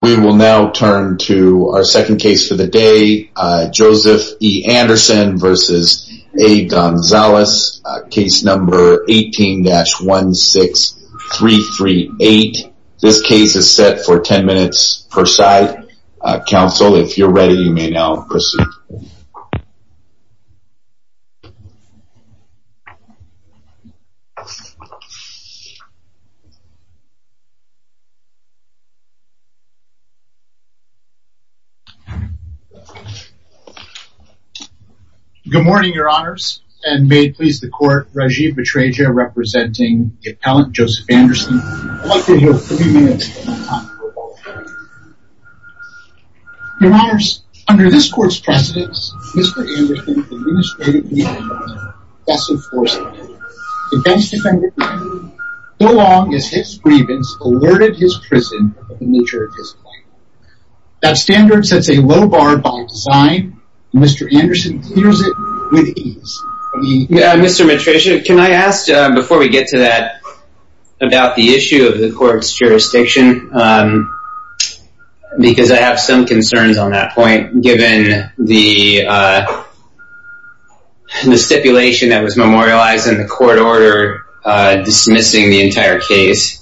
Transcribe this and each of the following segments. We will now turn to our second case for the day, Joseph E. Anderson v. A. Gonzales, case number 18-16338. This case is set for 10 minutes per side. Counsel, if you're ready, you may now proceed. Good morning, your honors, and may it please the court, Rajiv Betraja representing the Your honors, under this court's precedence, Mr. Anderson is administratively best enforcing. The best defender can be, so long as his grievance alerted his prison of the nature of his plight. That standard sets a low bar by design, and Mr. Anderson clears it with ease. Mr. Betraja, can I ask, before we get to that, about the issue of the court's jurisdiction? Because I have some concerns on that point, given the stipulation that was memorialized in the court order dismissing the entire case.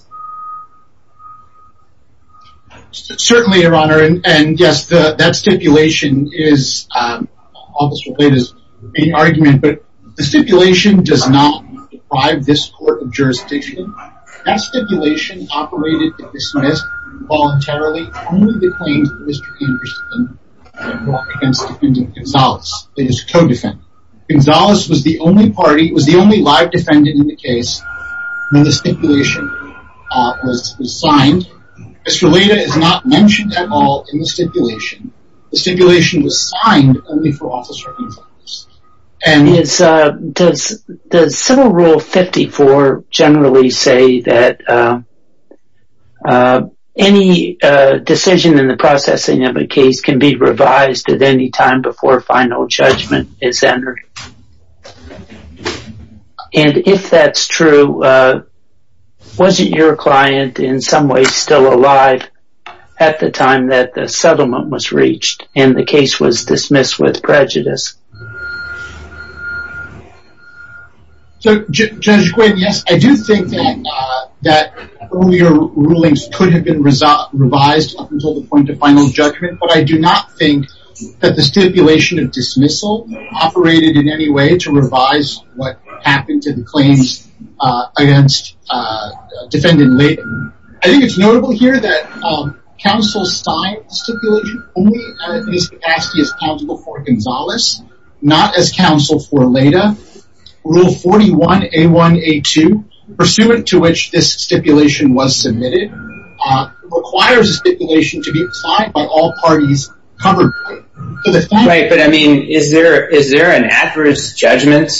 Certainly, your honor, and yes, that stipulation is almost related to the main argument, but the stipulation does not deprive this court of jurisdiction. That stipulation operated to dismiss voluntarily only the claims of Mr. Anderson against defendant Gonzales, who is a co-defendant. Gonzales was the only live defendant in the case when the stipulation was signed. Mr. Leda is not mentioned at all in the stipulation. The stipulation was signed only for officer influence. Does civil rule 54 generally say that any decision in the processing of a case can be revised at any time before final judgment is entered? And if that's true, was it your client, in some ways, still alive at the time that the settlement was reached and the case was dismissed with prejudice? So, Judge Quinn, yes, I do think that earlier rulings could have been revised up until the point of final judgment, but I do not think that the stipulation of dismissal operated in any way to revise what happened to the claims against defendant Leda. I think it's notable here that counsel signed the stipulation only as possible for Gonzales, not as counsel for Leda. Rule 41A1A2, pursuant to which this stipulation was submitted, requires the stipulation to be signed by all parties covered by it. Right, but I mean, is there an adverse judgment,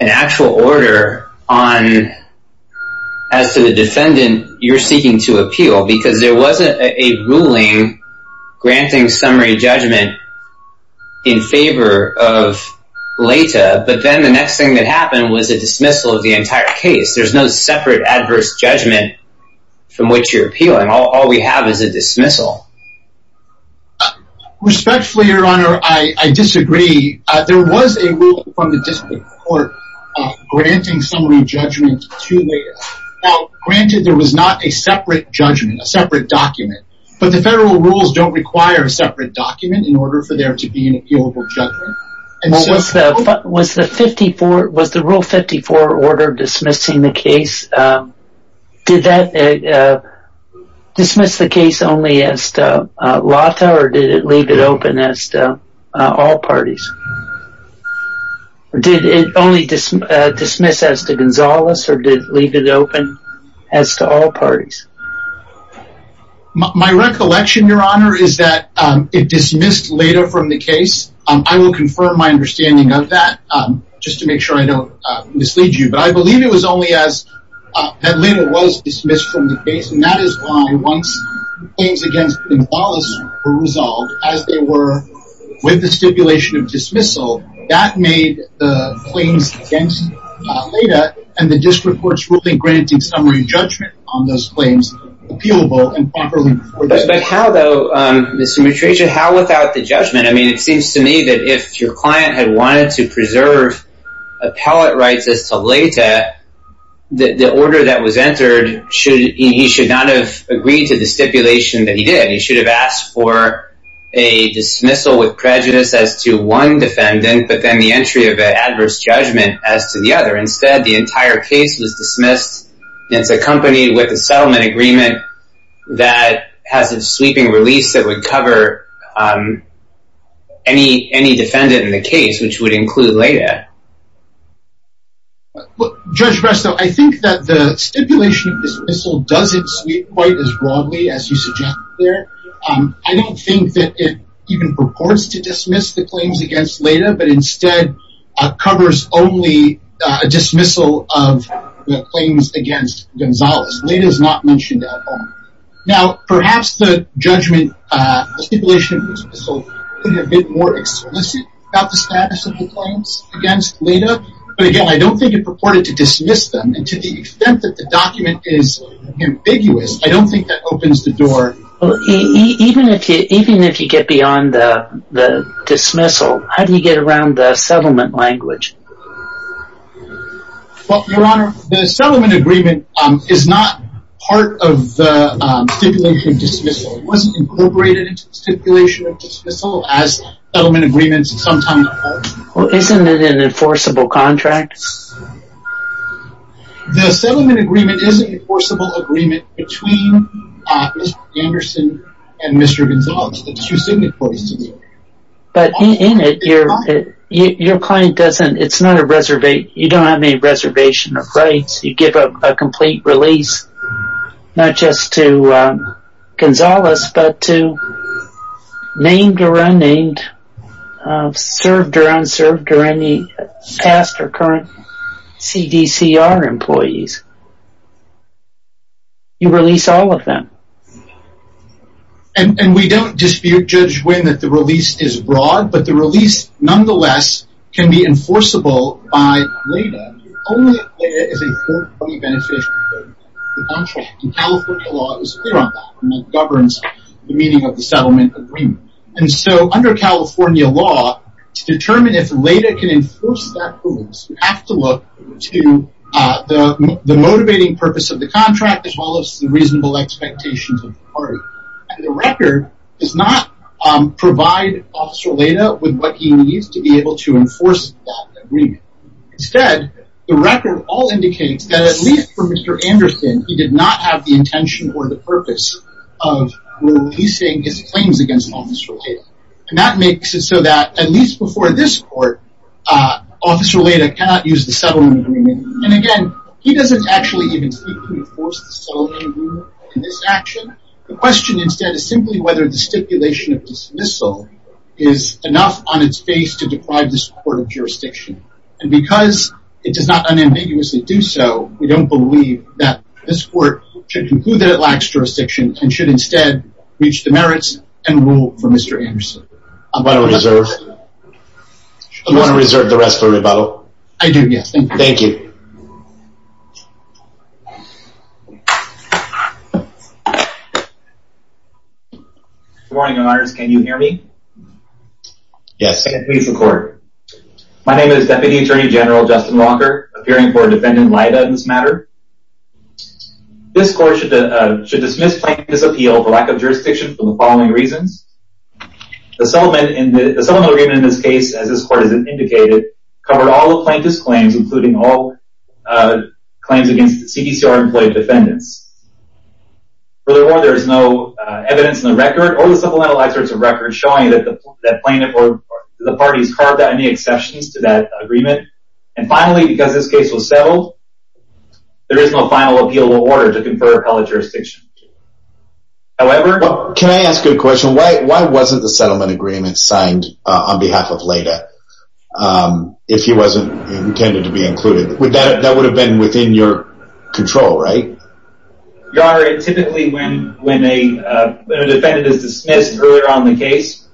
an actual order, as to the defendant you're seeking to appeal? Because there wasn't a ruling granting summary judgment in favor of Leda, but then the next thing that happened was a dismissal of the entire case. There's no separate adverse judgment from which you're appealing. All we have is a dismissal. Respectfully, Your Honor, I disagree. There was a ruling from the District Court granting summary judgment to Leda. Now, granted there was not a separate judgment, a separate document, but the federal rules don't require a separate document in order for there to be an appealable judgment. Was the Rule 54 order dismissing the case, did that dismiss the case only as to Lata or did it leave it open as to all parties? Did it only dismiss as to Gonzales or did it leave it open as to all parties? My recollection, Your Honor, is that it dismissed Leda from the case. I will confirm my understanding of that just to make sure I don't mislead you. But I believe it was only as that Leda was dismissed from the case, and that is why once things against Gonzales were resolved as they were with the stipulation of dismissal, that made the claims against Leda and the District Court's ruling granting summary judgment on those claims appealable and properly. But how, though, Mr. Mitraja, how without the judgment? I mean, it seems to me that if your client had wanted to preserve appellate rights as to Leda, the order that was entered, he should not have agreed to the stipulation that he did. He should have asked for a dismissal with prejudice as to one defendant, but then the entry of an adverse judgment as to the other. Instead, the entire case was dismissed. And it's accompanied with a settlement agreement that has a sweeping release that would cover any defendant in the case, which would include Leda. Judge Resto, I think that the stipulation of dismissal doesn't sweep quite as broadly as you suggest there. I don't think that it even purports to dismiss the claims against Leda, but instead covers only a dismissal of the claims against Gonzalez. Leda is not mentioned at all. Now, perhaps the judgment, the stipulation of dismissal could have been more explicit about the status of the claims against Leda. But, again, I don't think it purported to dismiss them. And to the extent that the document is ambiguous, I don't think that opens the door. Even if you get beyond the dismissal, how do you get around the settlement language? Well, Your Honor, the settlement agreement is not part of the stipulation of dismissal. It wasn't incorporated into the stipulation of dismissal as settlement agreements sometimes are. Well, isn't it an enforceable contract? The settlement agreement is an enforceable agreement between Mr. Anderson and Mr. Gonzalez. But in it, your client doesn't, it's not a reservation, you don't have any reservation of rights. You give a complete release, not just to Gonzalez, but to named or unnamed, served or unserved, or any past or current CDCR employees. You release all of them. And we don't dispute Judge Wynn that the release is broad, but the release, nonetheless, can be enforceable by Leda. Only if Leda is a third-party beneficiary of the contract. And California law is clear on that, and it governs the meaning of the settlement agreement. And so, under California law, to determine if Leda can enforce that rule, you have to look to the motivating purpose of the contract as well as the reasonable expectations of the party. And the record does not provide Officer Leda with what he needs to be able to enforce that agreement. Instead, the record all indicates that at least for Mr. Anderson, he did not have the intention or the purpose of releasing his claims against Officer Leda. And that makes it so that, at least before this court, Officer Leda cannot use the settlement agreement. And again, he doesn't actually even seek to enforce the settlement agreement in this action. The question instead is simply whether the stipulation of dismissal is enough on its face to deprive this court of jurisdiction. And because it does not unambiguously do so, we don't believe that this court should conclude that it lacks jurisdiction, and should instead reach the merits and rule for Mr. Anderson. I'm going to reserve the rest of the rebuttal. I do, yes. Thank you. Thank you. Good morning, Your Honors. Can you hear me? Yes. My name is Deputy Attorney General Justin Walker, appearing for Defendant Leda in this matter. This court should dismiss plaintiff's appeal for lack of jurisdiction for the following reasons. The settlement agreement in this case, as this court has indicated, covered all the plaintiff's claims, including all claims against CDCR-employed defendants. Furthermore, there is no evidence in the record, or the supplemental excerpts of records, showing that the plaintiff or the parties carved out any exceptions to that agreement. And finally, because this case was settled, there is no final appeal or order to confer appellate jurisdiction. Can I ask you a question? Why wasn't the settlement agreement signed on behalf of Leda, if he wasn't intended to be included? That would have been within your control, right? Your Honor, typically when a defendant is dismissed earlier on in the case,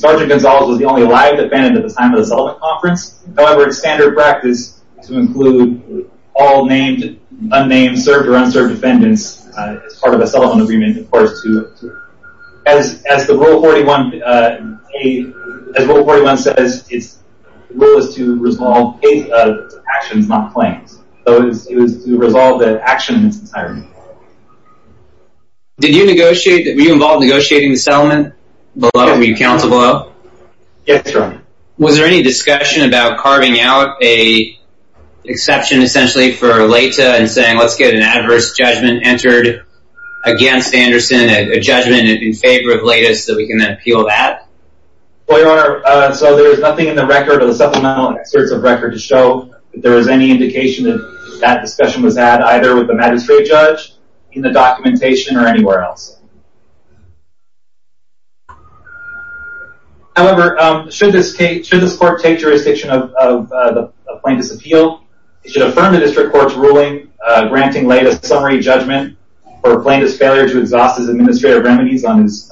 Sergeant Gonzalez was the only live defendant at the time of the settlement conference. However, it's standard practice to include all named, unnamed, served, or unserved defendants as part of a settlement agreement. As Rule 41 says, the rule is to resolve the case of actions, not claims. It was to resolve the action in its entirety. Were you involved in negotiating the settlement? Were you counsel below? Yes, Your Honor. Was there any discussion about carving out an exception, essentially, for Leda, and saying, let's get an adverse judgment entered against Anderson, a judgment in favor of Leda, so that we can appeal that? Your Honor, there is nothing in the record, or the supplemental excerpts of record, to show that there was any indication that that discussion was had, either with the magistrate judge, in the documentation, or anywhere else. However, should this court take jurisdiction of plaintiff's appeal, it should affirm the district court's ruling, granting Leda summary judgment for plaintiff's failure to exhaust his administrative remedies on his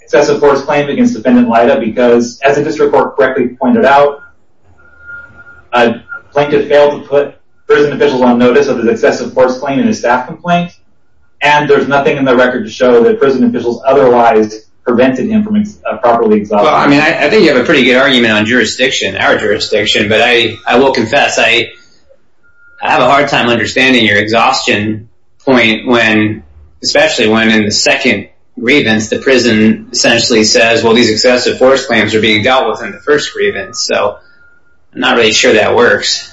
excessive force claim against defendant Leda, because, as the district court correctly pointed out, a plaintiff failed to put prison officials on notice of his excessive force claim in his staff complaint, and there's nothing in the record to show that prison officials otherwise prevented him from properly exhaustion. Well, I mean, I think you have a pretty good argument on jurisdiction, our jurisdiction, but I will confess, I have a hard time understanding your exhaustion point, especially when, in the second grievance, the prison essentially says, well, these excessive force claims are being dealt with in the first grievance, so I'm not really sure that works.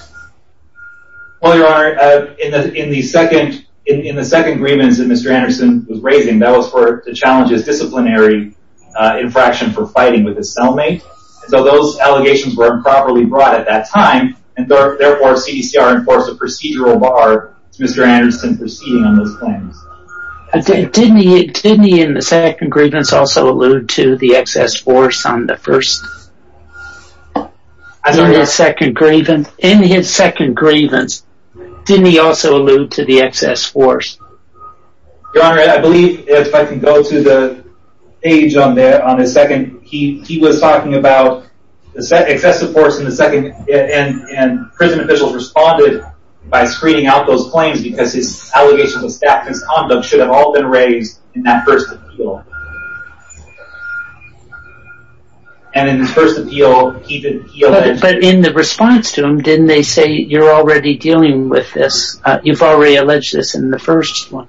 Well, Your Honor, in the second grievance that Mr. Anderson was raising, that was for the challenge of disciplinary infraction for fighting with his cellmate, so those allegations were improperly brought at that time, and therefore CDCR enforced a procedural bar, Mr. Anderson, proceeding on those claims. Didn't he, in the second grievance, also allude to the excess force on the first? In his second grievance, didn't he also allude to the excess force? Your Honor, I believe, if I can go to the page on the second, he was talking about excessive force in the second, and prison officials responded by screening out those claims because his allegations of staff misconduct should have all been raised in that first appeal. But in the response to him, didn't they say, you're already dealing with this, you've already alleged this in the first one?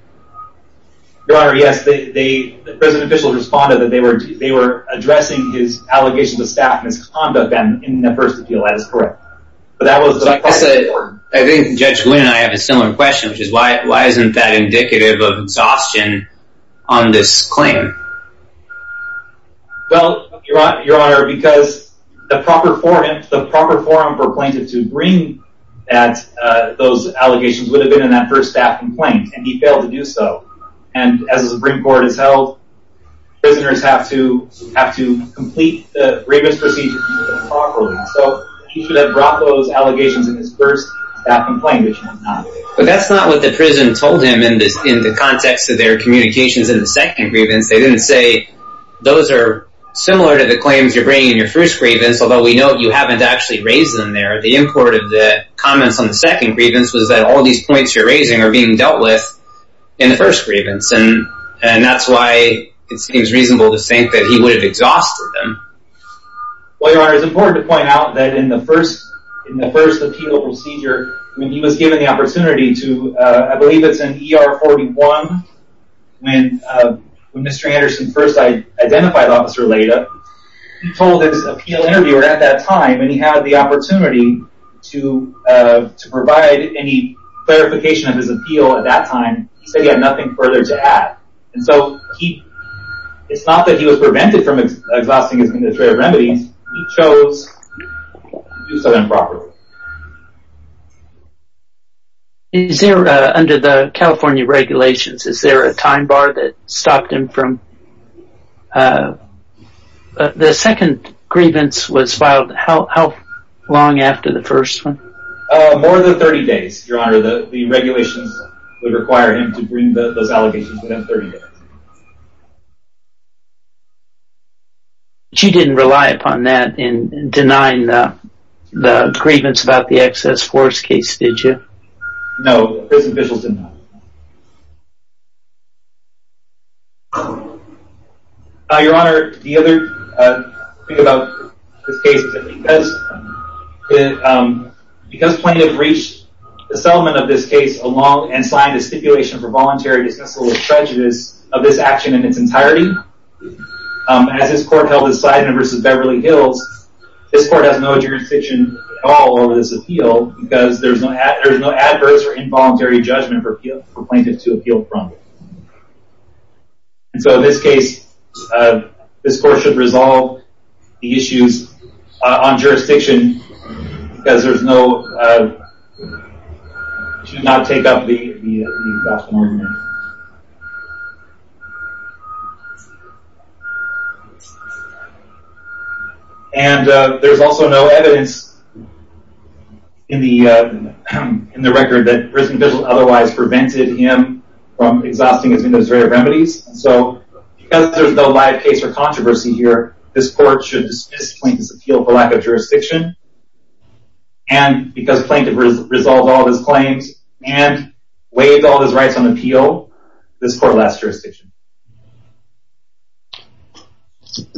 Your Honor, yes, the prison officials responded that they were addressing his allegations of staff misconduct in the first appeal, that is correct. I think Judge Glynn and I have a similar question, which is why isn't that indicative of exhaustion on this claim? Well, Your Honor, because the proper forum for plaintiff to bring those allegations would have been in that first staff complaint, and he failed to do so. And as the Supreme Court has held, prisoners have to complete the grievance procedure properly. So he should have brought those allegations in his first staff complaint, which he has not. But that's not what the prison told him in the context of their communications in the second grievance. They didn't say, those are similar to the claims you're bringing in your first grievance, although we know you haven't actually raised them there. The import of the comments on the second grievance was that all these points you're raising are being dealt with in the first grievance. And that's why it seems reasonable to think that he would have exhausted them. Well, Your Honor, it's important to point out that in the first appeal procedure, when he was given the opportunity to, I believe it's in ER 41, when Mr. Anderson first identified Officer Leda, he told his appeal interviewer at that time, when he had the opportunity to provide any clarification of his appeal at that time, he said he had nothing further to add. And so it's not that he was prevented from exhausting his administrative remedies. He chose to do so improperly. Is there, under the California regulations, is there a time bar that stopped him from... The second grievance was filed how long after the first one? More than 30 days, Your Honor. The regulations would require him to bring those allegations within 30 days. But you didn't rely upon that in denying the grievance about the excess force case, did you? No, those officials did not. Your Honor, the other thing about this case is that because plaintiff reached the settlement of this case along and signed a stipulation for voluntary dismissal of prejudice of this action in its entirety, as this court held in Seidman v. Beverly Hills, this court has no jurisdiction at all over this appeal because there's no adverse or involuntary judgment for plaintiff to appeal from. And so in this case, this court should resolve the issues on jurisdiction because there's no... should not take up the exhaustion argument. And there's also no evidence in the record that prison vigil otherwise prevented him from exhausting his administrative remedies. So because there's no live case or controversy here, this court should dismiss plaintiff's appeal for lack of jurisdiction. And because plaintiff resolved all of his claims and waived all of his rights on appeal, this court lasts jurisdiction.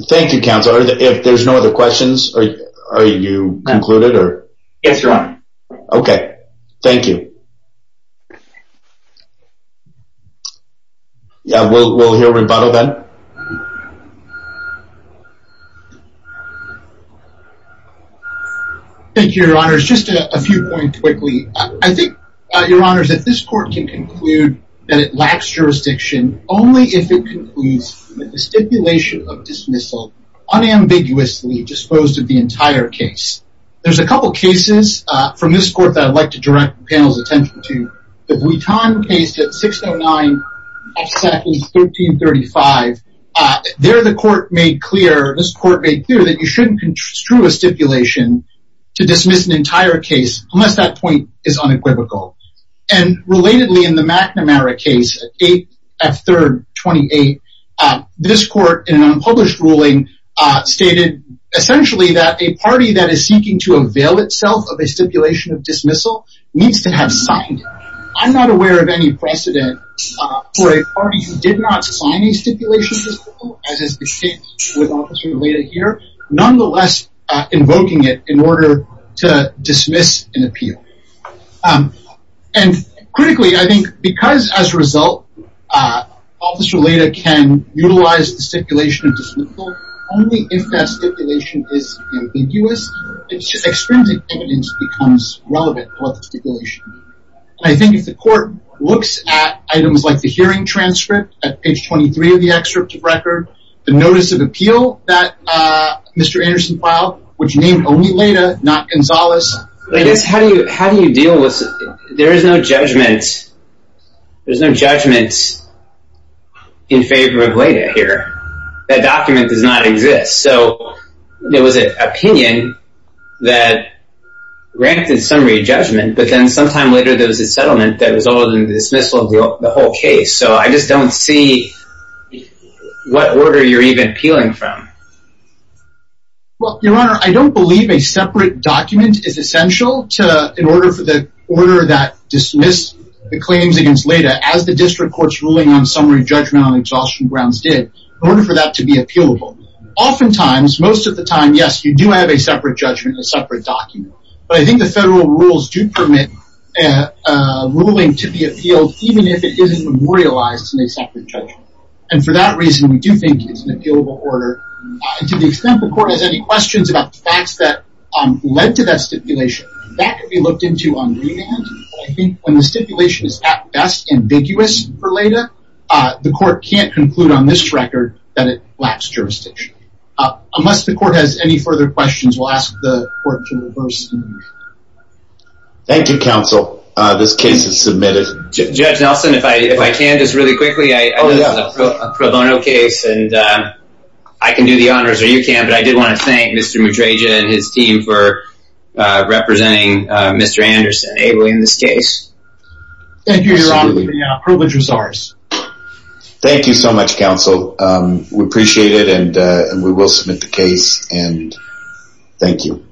Thank you, counsel. If there's no other questions, are you concluded? Yes, Your Honor. Okay. Thank you. Yeah, we'll hear rebuttal then. Thank you, Your Honors. Just a few points quickly. I think, Your Honors, that this court can conclude that it lacks jurisdiction only if it concludes that the stipulation of dismissal unambiguously disposed of the entire case. There's a couple of cases from this court that I'd like to direct the panel's attention to. The Bliton case at 609, House Sackle's, 1335. There, the court made clear, this court made clear, that you shouldn't construe a stipulation to dismiss an entire case unless that point is unequivocal. And relatedly, in the McNamara case, 8 F. 3rd, 28, this court, in an unpublished ruling, stated essentially that a party that is seeking to avail itself of a stipulation of dismissal needs to have signed it. I'm not aware of any precedent for a party who did not sign a stipulation of dismissal, as has been stated with Officer Leda here, nonetheless invoking it in order to dismiss an appeal. And critically, I think, because as a result, Officer Leda can utilize the stipulation of dismissal only if that stipulation is ambiguous. Extrinsic evidence becomes relevant for the stipulation. I think if the court looks at items like the hearing transcript, at page 23 of the excerpt of record, the notice of appeal that Mr. Anderson filed, which named only Leda, not Gonzales. I guess, how do you deal with, there is no judgment, there's no judgment in favor of Leda here. That document does not exist. So, there was an opinion that granted some re-judgment, but then sometime later there was a settlement that resulted in the dismissal of the whole case. So, I just don't see what order you're even appealing from. Well, Your Honor, I don't believe a separate document is essential in order for the order that dismissed the claims against Leda, as the district court's ruling on summary judgment on exhaustion grounds did, in order for that to be appealable. Oftentimes, most of the time, yes, you do have a separate judgment, a separate document. But I think the federal rules do permit a ruling to be appealed, even if it isn't memorialized in a separate judgment. And for that reason, we do think it's an appealable order. To the extent the court has any questions about the facts that led to that stipulation, that could be looked into on remand. But I think when the stipulation is at best ambiguous for Leda, the court can't conclude on this record that it lacks jurisdiction. Unless the court has any further questions, we'll ask the court to reverse. Thank you, counsel. This case is submitted. Judge Nelson, if I can just really quickly, this is a pro bono case, and I can do the honors, or you can, but I did want to thank Mr. Madreja and his team for representing Mr. Anderson, enabling this case. Thank you, Your Honor. The privilege is ours. Thank you so much, counsel. We appreciate it, and we will submit the case, and thank you.